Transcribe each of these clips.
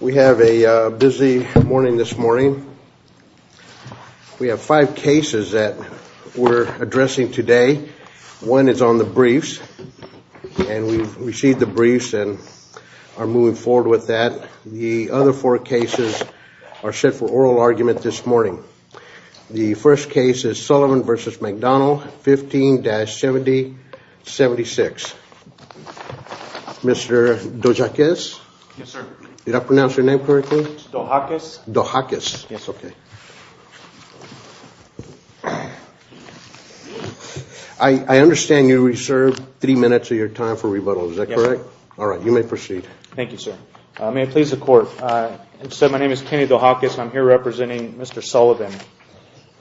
We have a busy morning this morning. We have five cases that we're addressing today. One is on the briefs, and we've received the briefs and are moving forward with that. The other four cases are set for oral argument this morning. The first case is Sullivan v. McDonald, 15-7076. Mr. Dojaquez? Yes, sir. Did I pronounce your name correctly? Dojaquez. Dojaquez. Yes. OK. I understand you reserved three minutes of your time for rebuttal. Is that correct? All right, you may proceed. Thank you, sir. May it please the court, my name is Kenny Dojaquez. I'm here representing Mr. Sullivan.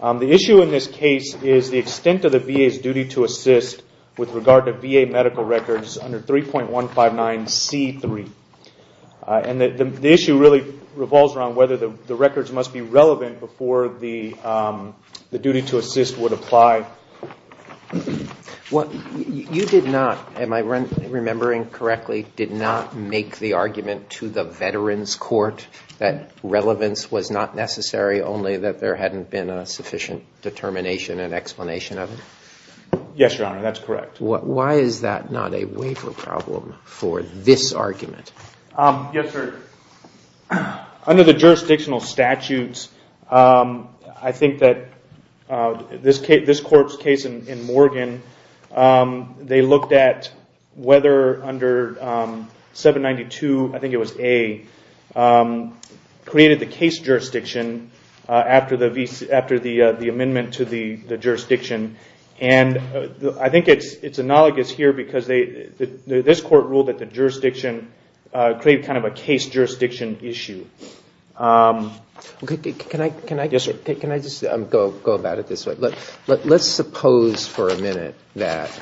The issue in this case is the extent of the VA's duty to assist with regard to VA medical records under 3.159C3. And the issue really revolves around whether the records must be relevant before the duty to assist would apply. Well, you did not, am I remembering correctly, did not make the argument to the Veterans Court that relevance was not necessary, only that there hadn't been a sufficient determination and explanation of it? Yes, Your Honor, that's correct. Why is that not a waiver problem for this argument? Yes, sir. Under the jurisdictional statutes, I think that this corpse case in Morgan, they looked at whether under 792, I think it was A, created the case jurisdiction after the amendment to the jurisdiction. And I think it's analogous here because this court ruled that the jurisdiction created kind of a case jurisdiction issue. Can I just go about it this way? Let's suppose for a minute that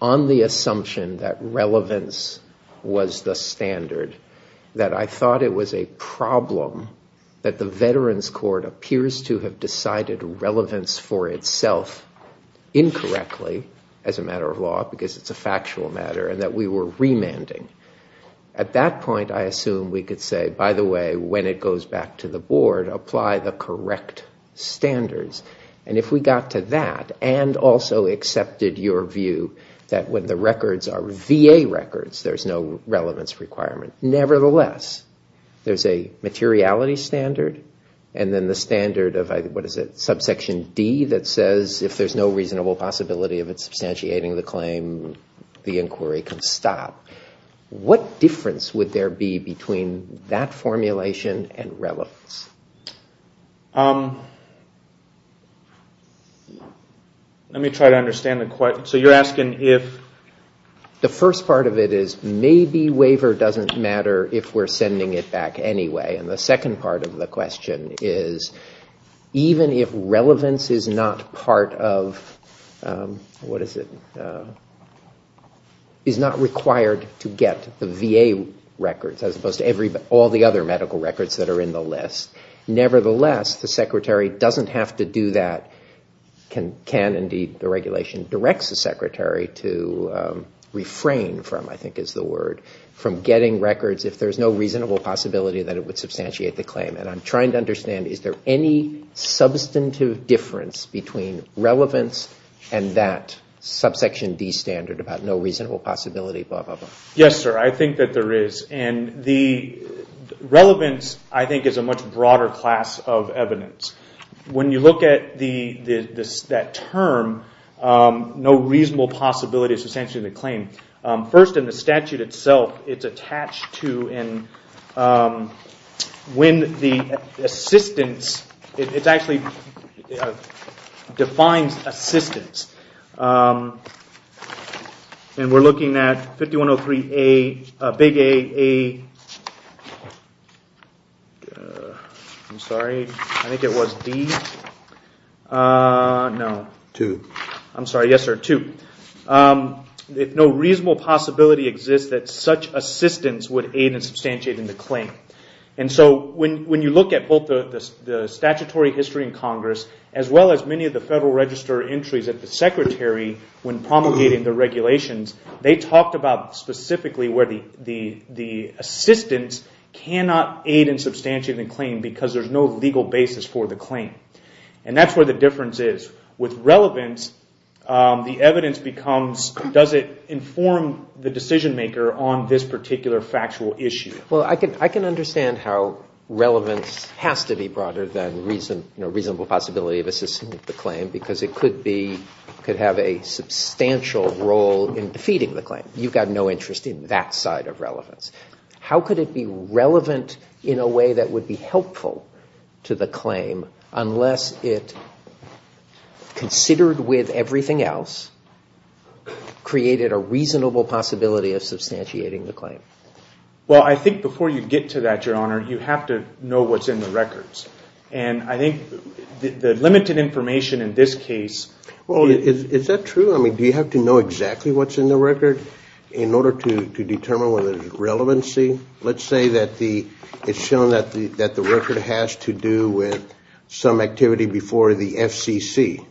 on the assumption that relevance was the standard, that I thought it was a problem that the Veterans Court appears to have decided relevance for itself incorrectly as a matter of law because it's a factual matter and that we were remanding. At that point, I assume we could say, by the way, when it goes back to the board, apply the correct standards. And if we got to that and also accepted your view that when the records are VA records, there's no relevance requirement, nevertheless, there's a materiality standard and then the standard of, what is it, subsection D that says if there's no reasonable possibility of it substantiating the claim, the inquiry can stop. What difference would there be between that formulation and relevance? Let me try to understand the question. So you're asking if... The first part of it is maybe waiver doesn't matter if we're sending it back anyway. And the second part of the question is even if relevance is not part of, what is it, is not required to get the VA records as opposed to all the other medical records that are in the list, nevertheless, the secretary doesn't have to do that, can indeed the regulation directs the secretary to refrain from, I think is the word, from getting records if there's no reasonable possibility that it would substantiate the claim. And I'm trying to understand, is there any substantive difference between relevance and that subsection D standard about no reasonable possibility, blah, blah, blah? Yes, sir, I think that there is. And the relevance, I think, is a much broader class of evidence. When you look at that term, no reasonable possibility is substantiating the claim. First, in the statute itself, it's attached to when the assistance, it actually defines assistance. And we're looking at 5103A, big A, I'm sorry, I think it was D, no. Two. I'm sorry, yes, sir, two. If no reasonable possibility exists, that such assistance would aid in substantiating the claim. And so when you look at both the statutory history in Congress, as well as many of the Federal Register entries that the secretary, when promulgating the regulations, they talked about specifically where the assistance cannot aid in substantiating the claim because there's no legal basis for the claim. And that's where the difference is. With relevance, the evidence becomes, does it inform the decision maker on this particular factual issue? Well, I can understand how relevance has to be broader than reason, a reasonable possibility of assisting with the claim because it could be, could have a substantial role in defeating the claim. You've got no interest in that side of relevance. How could it be relevant in a way that would be helpful to the claim unless it, considered with everything else, created a reasonable possibility of substantiating the claim? Well, I think before you get to that, Your Honor, you have to know what's in the records. And I think the limited information in this case... Well, is that true? I mean, do you have to know exactly what's in the record in order to determine whether there's relevancy? Let's say that the, it's shown that the record has to do with some activity before the FCC.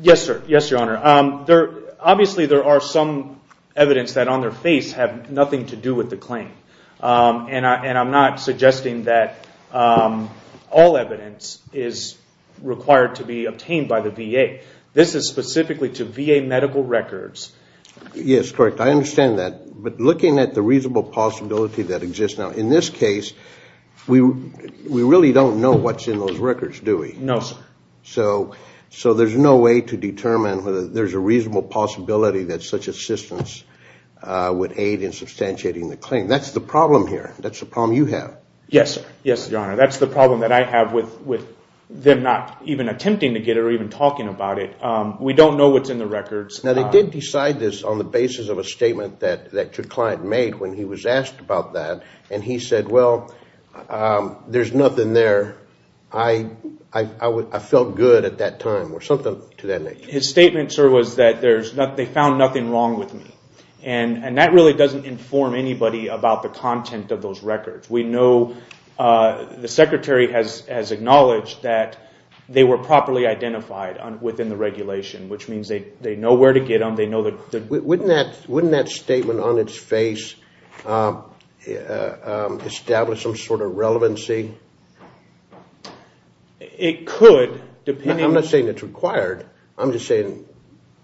Yes, sir. Yes, Your Honor. There, obviously there are some evidence that on their face have nothing to do with the claim. And I'm not suggesting that all evidence is required to be obtained by the VA. This is specifically to VA medical records. Yes, correct. I understand that. But looking at the reasonable possibility that exists now, in this case, we really don't know what's in those records, do we? No, sir. So there's no way to determine whether there's a reasonable possibility that such assistance would aid in substantiating the claim. That's the problem here. That's the problem you have. Yes, sir. Yes, Your Honor. That's the problem that I have with them not even attempting to get it or even talking about it. We don't know what's in the records. Now, they did decide this on the basis of a statement that your client made when he was asked about that. And he said, well, there's nothing there. I felt good at that time or something to that nature. His statement, sir, was that they found nothing wrong with me. And that really doesn't inform anybody about the content of those records. We know, the Secretary has acknowledged that they were properly identified within the regulation, which means they know where to get them. They know the... Wouldn't that statement on its face establish some sort of relevancy? It could, depending... I'm not saying it's required. I'm just saying,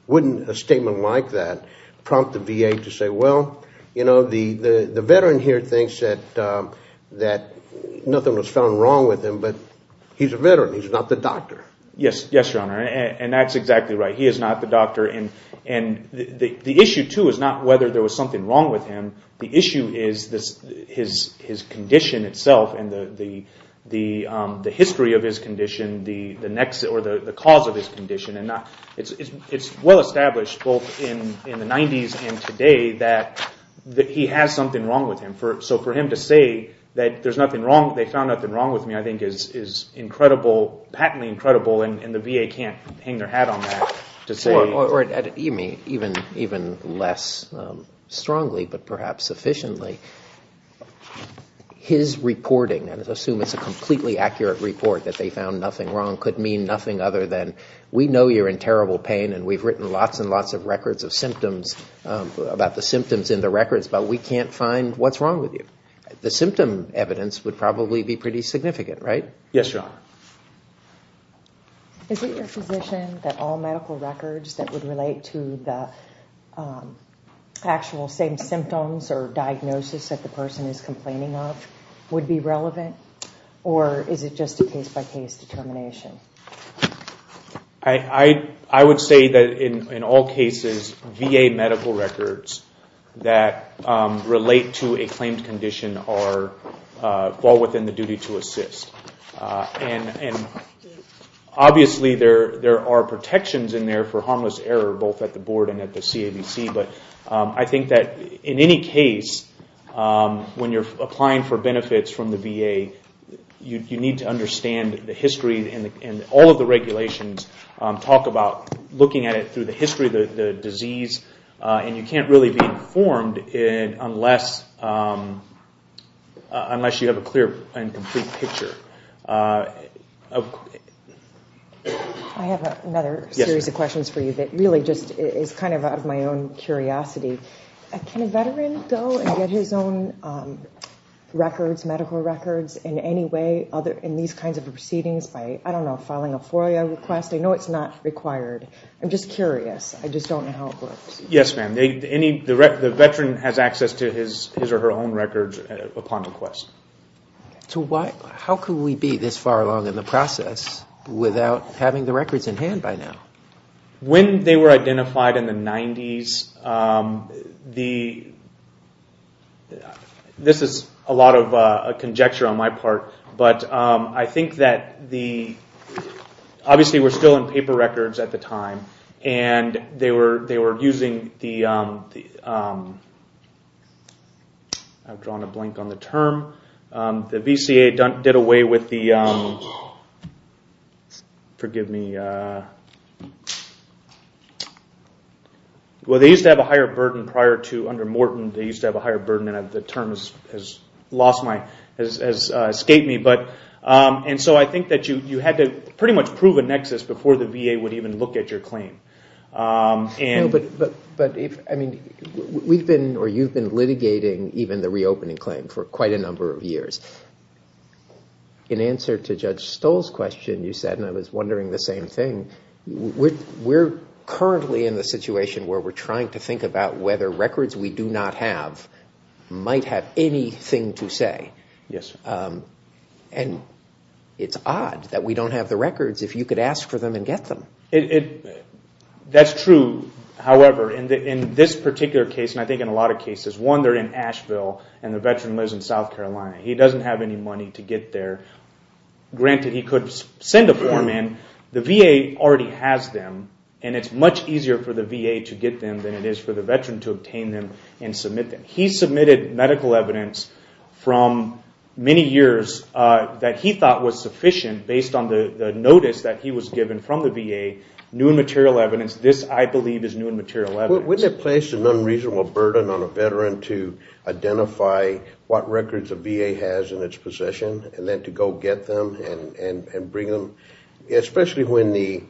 wouldn't a statement like that prompt the VA to say, well, you know, the veteran here thinks that nothing was found wrong with him, but he's a veteran. He's not the doctor. Yes. Yes, Your Honor. And that's exactly right. He is not the doctor. And the issue, too, is not whether there was something wrong with him. The issue is his condition itself and the history of his condition, or the cause of his condition. And it's well-established, both in the 90s and today, that he has something wrong with him. So for him to say that there's nothing wrong, they found nothing wrong with me, I think is incredible, patently incredible. And the VA can't hang their hat on that to say... Or even less strongly, but perhaps sufficiently, his reporting, and assume it's a completely accurate report that they found nothing wrong, could mean nothing other than, we know you're in terrible pain, and we've written lots and lots of records of symptoms about the symptoms in the records, but we can't find what's wrong with you. The symptom evidence would probably be pretty significant, right? Yes, Your Honor. Is it your position that all medical records that would relate to the actual same symptoms or diagnosis that the person is complaining of would be relevant? Or is it just a case-by-case determination? I would say that in all cases, VA medical records that relate to a claimed condition fall within the duty to assist. And obviously, there are protections in there for harmless error, both at the board and at the CABC. But I think that in any case, when you're applying for benefits from the VA, you need to understand the history and all of the regulations talk about looking at it through the history of the disease. And you can't really be informed unless you have a clear and complete picture. I have another series of questions for you that really just is kind of out of my own curiosity. Can a veteran go and get his own records, medical records in any way in these kinds of proceedings by, I don't know, filing a FOIA request? I know it's not required. I'm just curious. I just don't know how it works. Yes, ma'am. The veteran has access to his or her own records upon request. So how could we be this far along in the process without having the records in hand by now? When they were identified in the 90s, this is a lot of conjecture on my part, but I think that the, obviously we're still in paper records at the time, and they were using the, I've drawn a blank on the term, the VCA did away with the, forgive me, well, they used to have a higher burden prior to under Morton. They used to have a higher burden, and the term has escaped me. And so I think that you had to pretty much prove a nexus before the VA would even look at your claim. But if, I mean, we've been or you've been litigating even the reopening claim for quite a number of years. In answer to Judge Stoll's question, you said, and I was wondering the same thing, we're currently in the situation where we're trying to think about whether records we do not have might have anything to say. Yes. And it's odd that we don't have the records if you could ask for them and get them. It, that's true, however, in this particular case, and I think in a lot of cases, one, they're in Asheville, and the veteran lives in South Carolina. He doesn't have any money to get there. Granted, he could send a form in. The VA already has them, and it's much easier for the VA to get them than it is for the veteran to obtain them and submit them. He submitted medical evidence from many years that he thought was sufficient based on the notice that he was given from the VA, new and material evidence. This, I believe, is new and material evidence. Wouldn't it place an unreasonable burden on a veteran to identify what records a VA has in its possession, and then to go get them and bring them, especially when the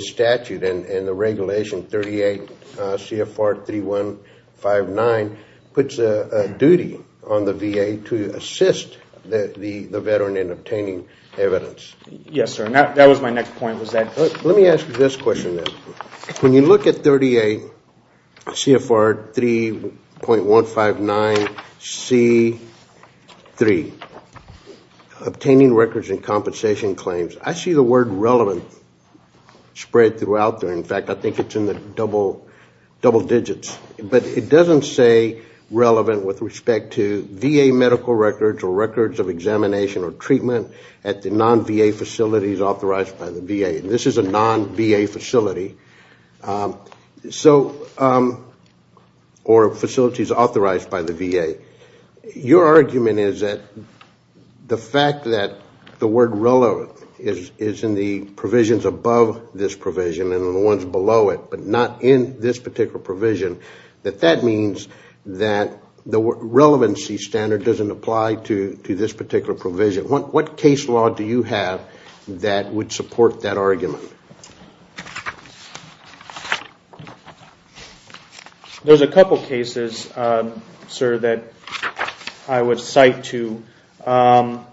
statute and the regulation 38 CFR 3159 puts a duty on the VA to assist the veteran in obtaining evidence? Yes, sir, and that was my next point, was that. Let me ask you this question then. When you look at 38 CFR 3.159C3, obtaining records and compensation claims, I see the word relevant spread throughout there. In fact, I think it's in the double digits, but it doesn't say relevant with respect to VA medical records or records of examination or treatment at the non-VA facilities authorized by the VA. This is a non-VA facility, or facilities authorized by the VA. Your argument is that the fact that the word relevant is in the provisions above this provision and the ones below it, but not in this particular provision, that that means that the relevancy standard doesn't apply to this particular provision. What case law do you have that would support that argument? There's a couple cases, sir, that I would cite to. I'm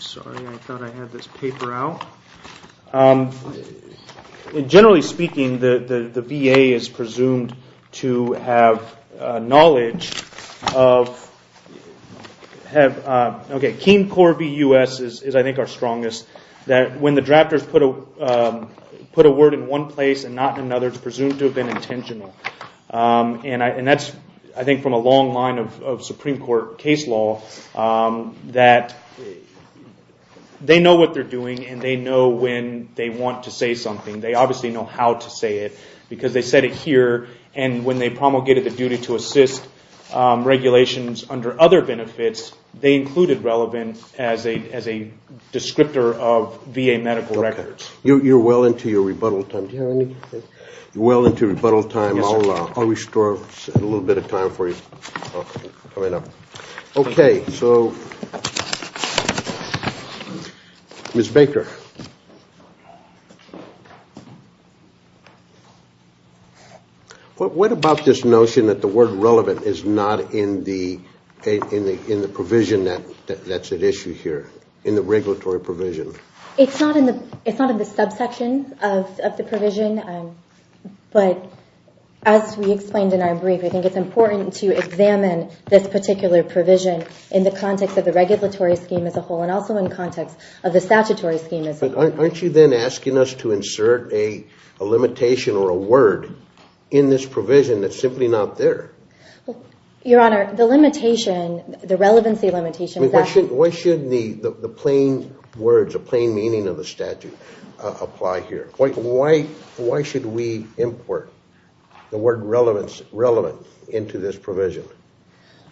sorry, I thought I had this paper out. Generally speaking, the VA is presumed to have knowledge of, okay, Keen Corps VUS is, I think, our strongest, that when the drafters put a word in one place and not in another, it's presumed to have been intentional. And that's, I think, from a long line of Supreme Court case law that they know what they're doing and they know when they want to say something. They obviously know how to say it, because they said it here. And when they promulgated the duty to assist regulations under other benefits, they included relevant as a descriptor of VA medical records. You're well into your rebuttal time. You're well into rebuttal time. I'll restore a little bit of time for you coming up. Okay, so, Ms. Baker, what about this notion that the word relevant is not in the provision that's at issue here, in the regulatory provision? It's not in the subsection of the provision, but as we explained in our brief, I think it's important to examine this particular provision in the context of the regulatory scheme as a whole and also in context of the statutory scheme as a whole. Aren't you then asking us to insert a limitation or a word in this provision that's simply not there? Your Honor, the limitation, the relevancy limitation is that... Why shouldn't the plain words, the plain meaning of the statute apply here? Why should we import the word relevant into this provision?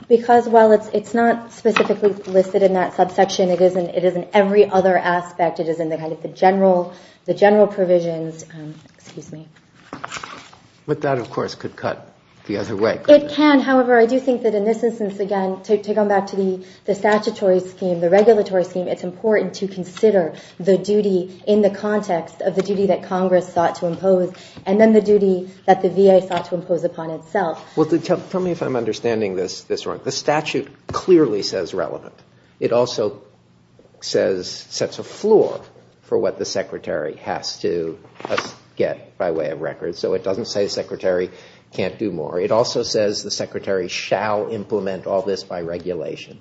Because while it's not specifically listed in that subsection, it is in every other aspect. It is in the general provisions. Excuse me. But that, of course, could cut the other way. It can. However, I do think that in this instance, again, to go back to the statutory scheme, the regulatory scheme, it's important to consider the duty in the context of the duty that Congress sought to impose and then the duty that the VA sought to impose upon itself. Well, tell me if I'm understanding this wrong. The statute clearly says relevant. It also says, sets a floor for what the secretary has to get by way of records. So it doesn't say secretary can't do more. It also says the secretary shall implement all this by regulation.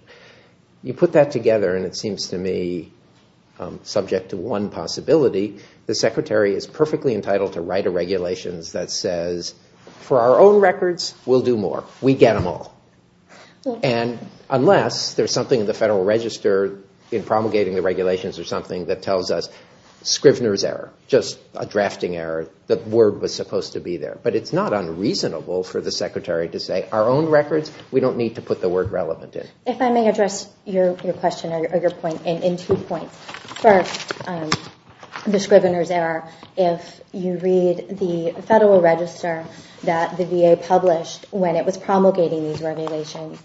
You put that together and it seems to me subject to one possibility, the secretary is perfectly entitled to write a regulations that says, for our own records, we'll do more. We get them all. And unless there's something in the federal register in promulgating the regulations or something that tells us Scrivner's error, just a drafting error, the word was supposed to be there. But it's not unreasonable for the secretary to say, our own records, we don't need to put the word relevant in. If I may address your question or your point in two points. First, the Scrivner's error, if you read the federal register that the VA published when it was promulgating these regulations,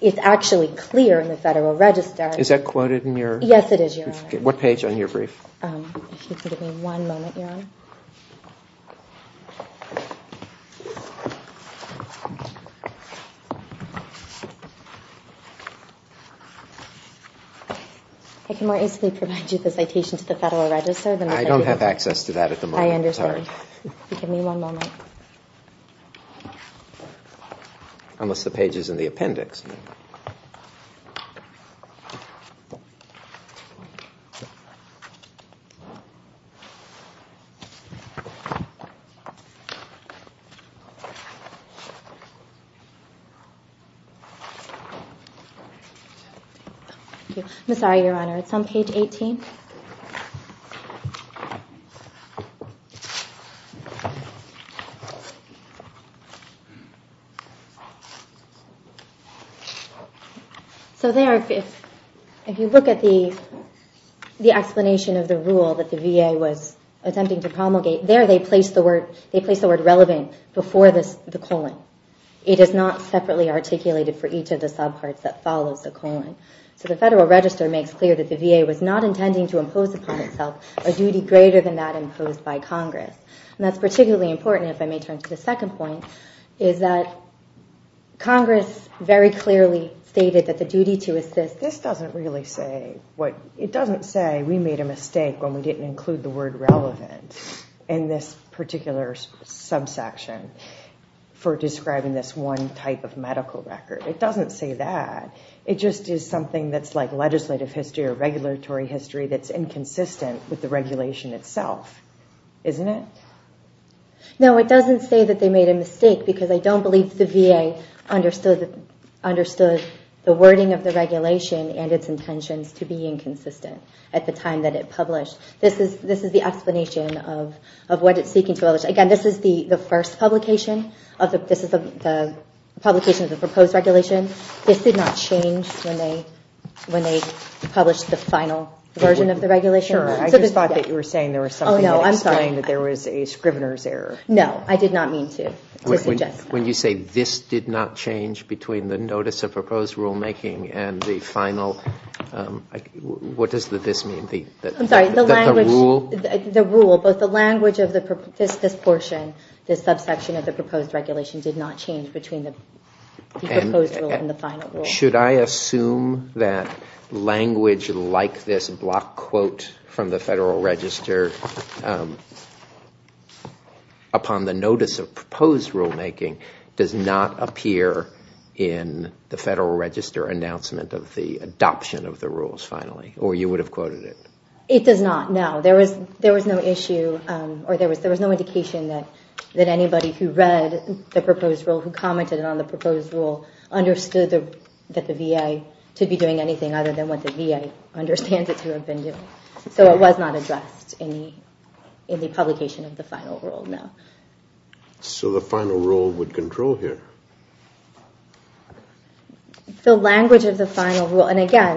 it's actually clear in the federal register. Is that quoted in your? Yes, it is, Your Honor. What page on your brief? If you could give me one moment, Your Honor. I can more easily provide you the citation to the federal register. I don't have access to that at the moment. I understand. Give me one moment. Unless the page is in the appendix. I'm sorry, Your Honor, it's on page 18. So there, if you look at the explanation of the rule that the VA was attempting to promulgate, there they placed the word relevant before the colon. It is not separately articulated for each of the subparts that follows the colon. So the federal register makes clear that the VA was not intending to impose upon itself a duty greater than that imposed by Congress. And that's particularly important, if I may turn to the second point, is that Congress very clearly stated that the duty to assist. This doesn't really say what, it doesn't say we made a mistake when we didn't particular subsection for describing this one type of medical record. It doesn't say that. It just is something that's like legislative history or regulatory history that's inconsistent with the regulation itself, isn't it? No, it doesn't say that they made a mistake, because I don't believe the VA understood the wording of the regulation and its intentions to be inconsistent at the time that it published. This is the explanation of what it's speaking to others. Again, this is the first publication of the proposed regulation. This did not change when they published the final version of the regulation. Sure, I just thought that you were saying there was something that explained that there was a scrivener's error. No, I did not mean to suggest that. When you say this did not change between the notice of proposed rulemaking and the final, what does the this mean? I'm sorry, the language of this portion, this subsection of the proposed regulation, did not change between the proposed rule and the final rule. Should I assume that language like this block quote from the Federal Register upon the notice of proposed rulemaking does not appear in the Federal Register announcement of the adoption of the rules finally, or you would have quoted it? It does not, no. There was no indication that anybody who read the proposed rule, who commented on the proposed rule, understood that the VA should be doing anything other than what the VA understands it to have been doing. So it was not addressed in the publication of the final rule, no. So the final rule would control here. The language of the final rule, and again,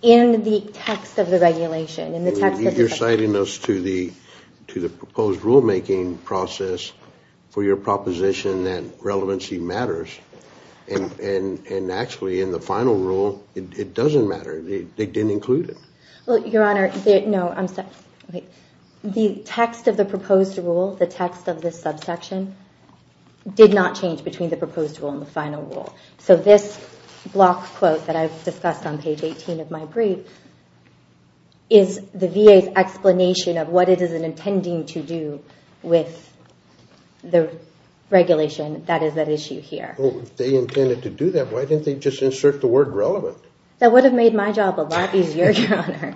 in the text of the regulation, in the text of the subsection. You're citing us to the proposed rulemaking process for your proposition that relevancy matters. And actually, in the final rule, it doesn't matter. They didn't include it. Well, Your Honor, no, I'm sorry. The text of the proposed rule, the text of this subsection, did not change between the proposed rule and the final rule. So this block quote that I've discussed on page 18 of my brief is the VA's explanation of what it is intending to do with the regulation that is at issue here. Well, if they intended to do that, why didn't they just insert the word relevant? That would have made my job a lot easier, Your Honor.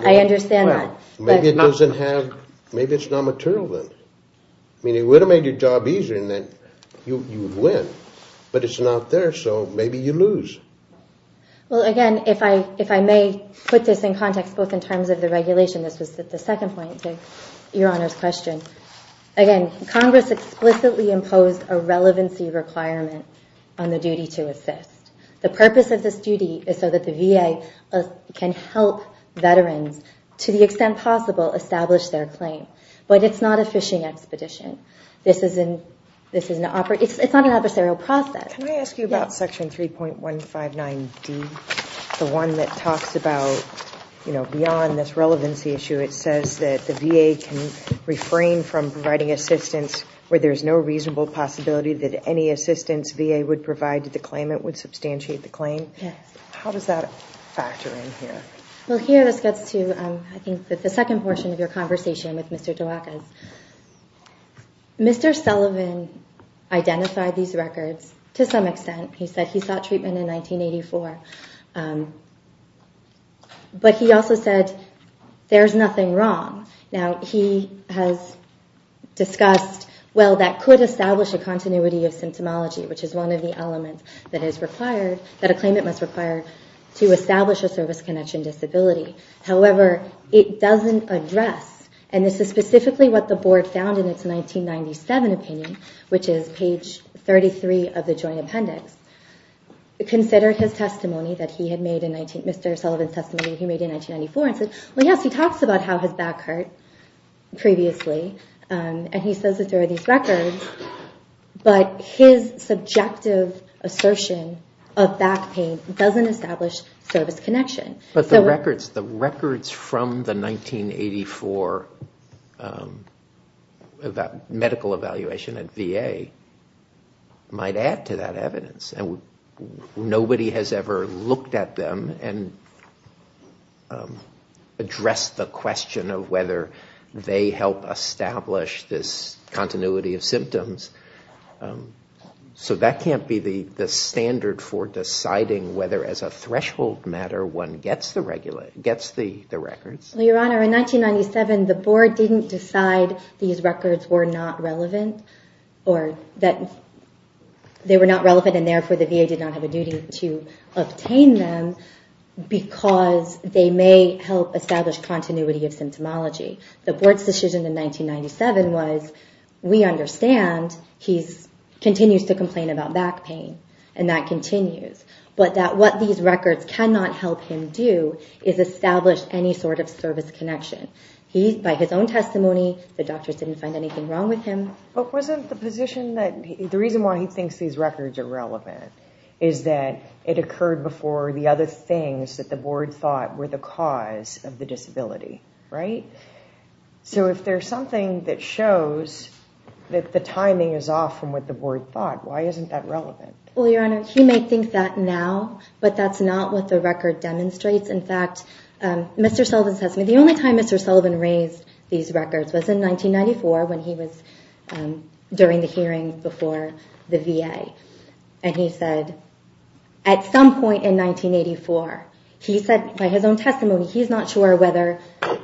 I understand that. Maybe it doesn't have, maybe it's non-material then. I mean, it would have made your job easier, and then you would win. But it's not there, so maybe you lose. Well, again, if I may put this in context, both in terms of the regulation. This was the second point to Your Honor's question. Again, Congress explicitly imposed a relevancy requirement on the duty to assist. The purpose of this duty is so that the VA can help veterans, to the extent possible, establish their claim. But it's not a fishing expedition. This is an, it's not an adversarial process. Can I ask you about section 3.159D, the one that talks about, you know, beyond this relevancy issue, it says that the VA can refrain from providing assistance where there is no reasonable possibility that any assistance VA would provide to the claimant would substantiate the claim. How does that factor in here? Well, here this gets to, I think, the second portion of your conversation with Mr. DeWackes. Mr. Sullivan identified these records to some extent. He said he sought treatment in 1984. But he also said there's nothing wrong. Now, he has discussed, well, that could establish a continuity of symptomology, which is one of the elements that is required, that a claimant must require to establish a service connection disability. However, it doesn't address, and this is specifically what the board found in its 1997 opinion, which is page 33 of the joint appendix, considered his testimony that he had made in 19, Mr. Sullivan's testimony he made in 1994, and said, well, yes, he talks about how his back hurt previously. And he says that there are these records. But his subjective assertion of back pain doesn't establish service connection. But the records from the 1984 medical evaluation at VA might add to that evidence. And nobody has ever looked at them and addressed the question of whether they help establish this continuity of symptoms. So that can't be the standard for deciding whether, as a threshold matter, one gets the records. Well, Your Honor, in 1997, the board didn't decide these records were not relevant, or that they were not relevant. And therefore, the VA did not have a duty to obtain them, because they may help establish continuity of symptomology. The board's decision in 1997 was, we understand he continues to complain about back pain. And that continues. But that what these records cannot help him do is establish any sort of service connection. By his own testimony, the doctors didn't find anything wrong with him. But wasn't the position that the reason why he thinks these records are relevant is that it occurred before the other things that the board thought were the cause of the disability, right? So if there's something that shows that the timing is off from what the board thought, why isn't that relevant? Well, Your Honor, he may think that now. But that's not what the record demonstrates. In fact, Mr. Sullivan says, the only time Mr. Sullivan raised these records was in 1994, when he was during the hearing before the VA. And he said, at some point in 1984, he said by his own testimony, he's not sure whether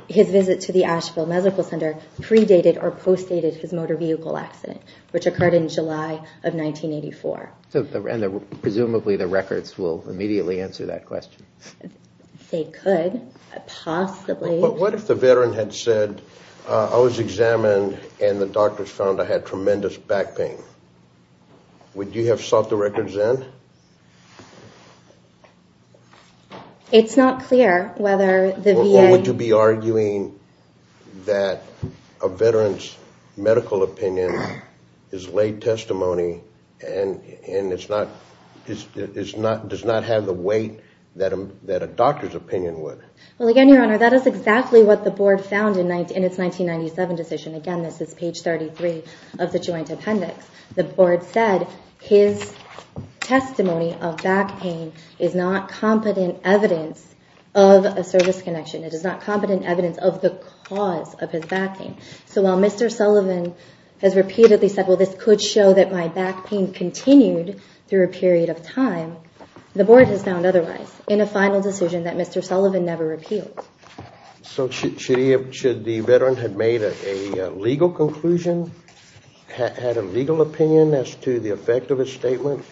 his visit to the Asheville Medical Center predated or postdated his motor vehicle accident, which occurred in July of 1984. And presumably, the records will immediately answer that question. They could, possibly. But what if the veteran had said, I was examined, and the doctors found I had tremendous back pain? Would you have sought the records in? It's not clear whether the VA. Or would you be arguing that a veteran's medical opinion is late testimony and does not have the weight that a doctor's opinion would? Well, again, Your Honor, that is exactly what the board found in its 1997 decision. Again, this is page 33 of the joint appendix. The board said, his testimony of back pain is not competent evidence of a service connection. It is not competent evidence of the cause of his back pain. So while Mr. Sullivan has repeatedly said, well, this could show that my back pain continued through a period of time, the board has found otherwise in a final decision that Mr. Sullivan never repealed. So should the veteran have made a legal conclusion, had a legal opinion as to the effect of his statement?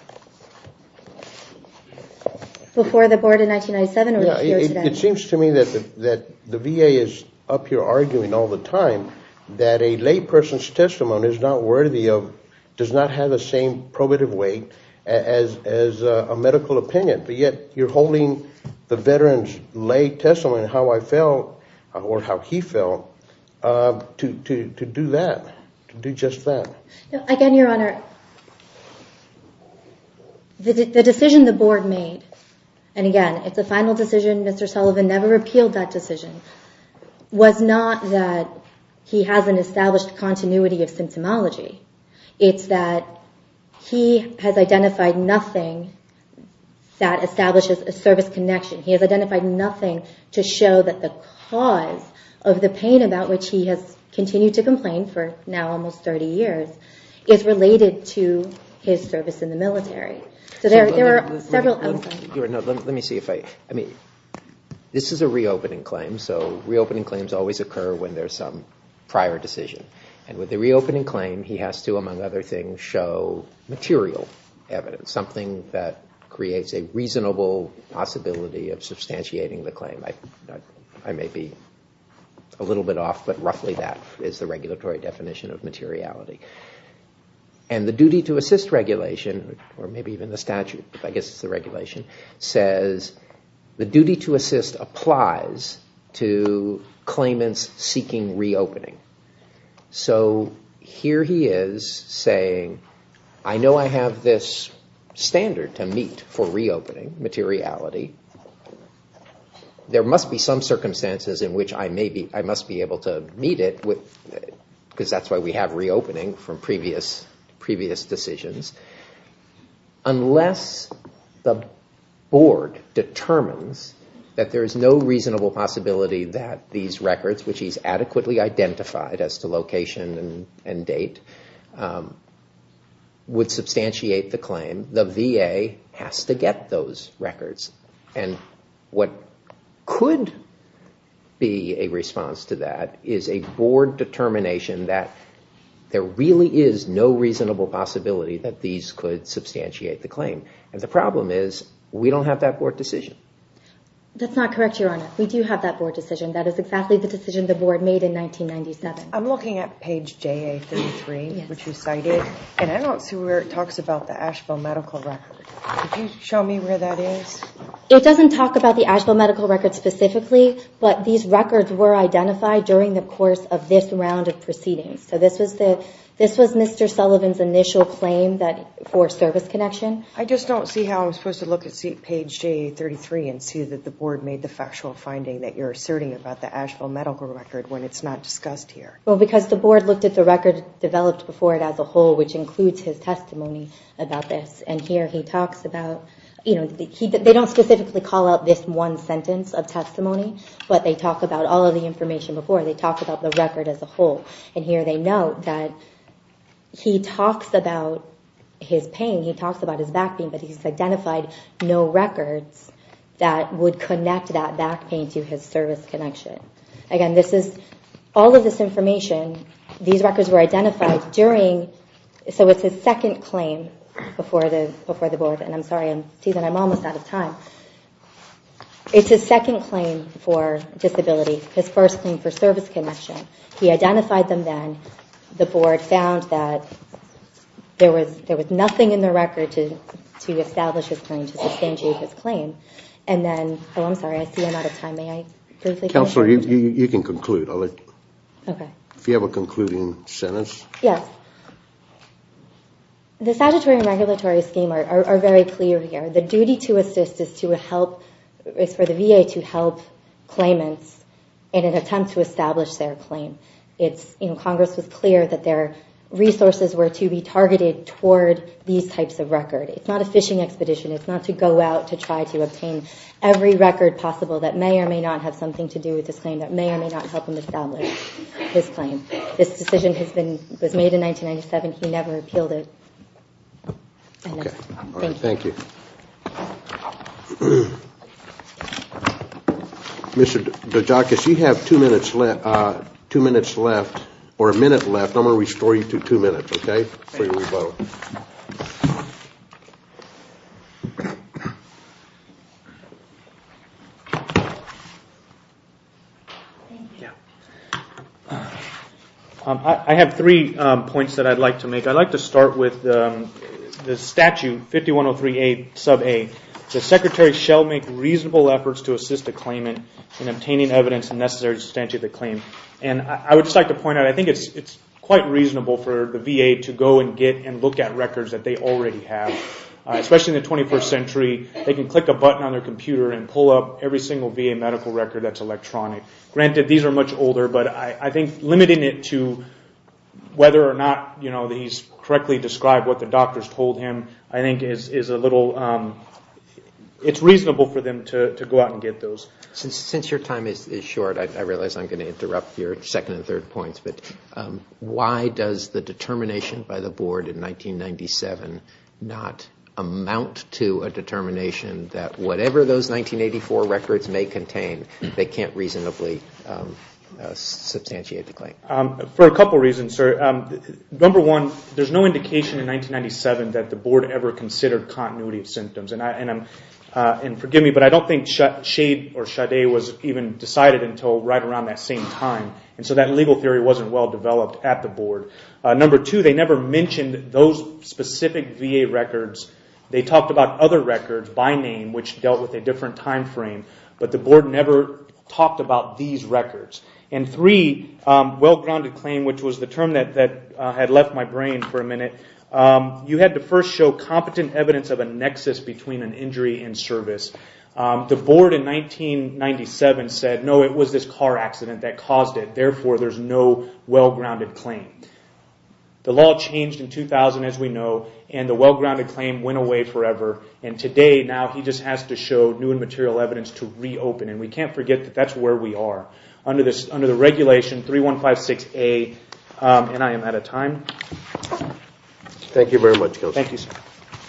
Before the board in 1997 or here today? It seems to me that the VA is up here arguing all the time that a late person's testimony is not worthy of, does not have the same probative weight as a medical opinion. But yet, you're holding the veteran's late testimony how I felt, or how he felt, to do that, to do just that. Again, Your Honor, the decision the board made, and again, it's a final decision. Mr. Sullivan never repealed that decision, was not that he hasn't established continuity of symptomology. It's that he has identified nothing that establishes a service connection. He has identified nothing to show that the cause of the pain about which he has continued to complain for now almost 30 years is related to his service in the military. So there are several, I'm sorry. Let me see if I, I mean, this is a reopening claim. So reopening claims always occur when there's some prior decision. And with the reopening claim, he has to, among other things, show material evidence, something that creates a reasonable possibility of substantiating the claim. I may be a little bit off, but roughly that is the regulatory definition of materiality. And the duty to assist regulation, or maybe even the statute, I guess it's the regulation, says the duty to assist applies to claimants seeking reopening. So here he is saying, I know I have this standard to meet for reopening materiality. There must be some circumstances in which I may be, I must be able to meet it, because that's why we have reopening from previous decisions. Unless the board determines that there is no reasonable possibility that these records, which he's adequately identified as to location and date, would substantiate the claim, the VA has to get those records. And what could be a response to that is a board determination that there really is no reasonable possibility that these could substantiate the claim. And the problem is, we don't have that board decision. That's not correct, Your Honor. We do have that board decision. That is exactly the decision the board made in 1997. I'm looking at page JA33, which you cited, and I don't see where it talks about the Asheville medical record. Could you show me where that is? It doesn't talk about the Asheville medical record specifically, but these records were identified during the course of this round of proceedings. So this was Mr. Sullivan's initial claim for service connection. I just don't see how I'm supposed to look at page JA33 and see that the board made the factual finding that you're asserting about the Asheville medical record when it's not discussed here. Well, because the board looked at the record developed before it as a whole, which includes his testimony about this. And here he talks about, they don't specifically call out this one sentence of testimony, but they talk about all of the information before. They talk about the record as a whole. And here they note that he talks about his pain. He talks about his back pain, but he's identified no records that would connect that back pain to his service connection. Again, all of this information, these records were identified during, so it's his second claim before the board. And I'm sorry, I'm almost out of time. It's his second claim for disability, his first claim for service connection. He identified them then. The board found that there was nothing in the record to establish his claim, to substantiate his claim. And then, oh, I'm sorry, I see I'm out of time. May I briefly? Counselor, you can conclude. I'll let you. OK. If you have a concluding sentence. Yes. The statutory and regulatory scheme are very clear here. The duty to assist is to help, is for the VA to help claimants in an attempt to establish their claim. Congress was clear that their resources were to be targeted toward these types of record. It's not a fishing expedition. It's not to go out to try to obtain every record possible that may or may not have something to do with this claim, that may or may not help him establish his claim. This decision was made in 1997. He never appealed it. Thank you. Mr. DeGioia, if you have two minutes left, or a minute left, I'm going to restore you to two minutes, OK? For your rebuttal. I have three points that I'd like to make. I'd like to start with the statute 5103a sub a. The secretary shall make reasonable efforts to assist the claimant in obtaining evidence necessary to substantiate the claim. And I would just like to point out, I think it's quite reasonable for the VA to go and get and look at records that they already have. Especially in the 21st century, they can click a button on their computer and pull up every single VA medical record that's electronic. Granted, these are much older, but I think limiting it to whether or not he's correctly described what the doctors told him, I think is a little, it's reasonable for them to go out and get those. Since your time is short, I realize I'm going to interrupt your second and third points, but why does the determination by the board in 1997 not amount to a determination that whatever those 1984 records may contain, they can't reasonably substantiate the claim? For a couple of reasons, sir. that the board ever considered continuity of symptoms. And forgive me, but I don't think Shade or Sade was even decided until right around that same time. And so that legal theory wasn't well developed at the board. Number two, they never mentioned those specific VA records. They talked about other records by name, which dealt with a different time frame. But the board never talked about these records. And three, well-grounded claim, which was the term that had left my brain for a minute, you had to first show competent evidence of a nexus between an injury and service. The board in 1997 said, no, it was this car accident that caused it. Therefore, there's no well-grounded claim. The law changed in 2000, as we know, and the well-grounded claim went away forever. And today, now, he just has to show new and material evidence to reopen. And we can't forget that that's where we are. Under the regulation 3156A, and I am out of time. Thank you very much, Kelsey. Thank you, sir.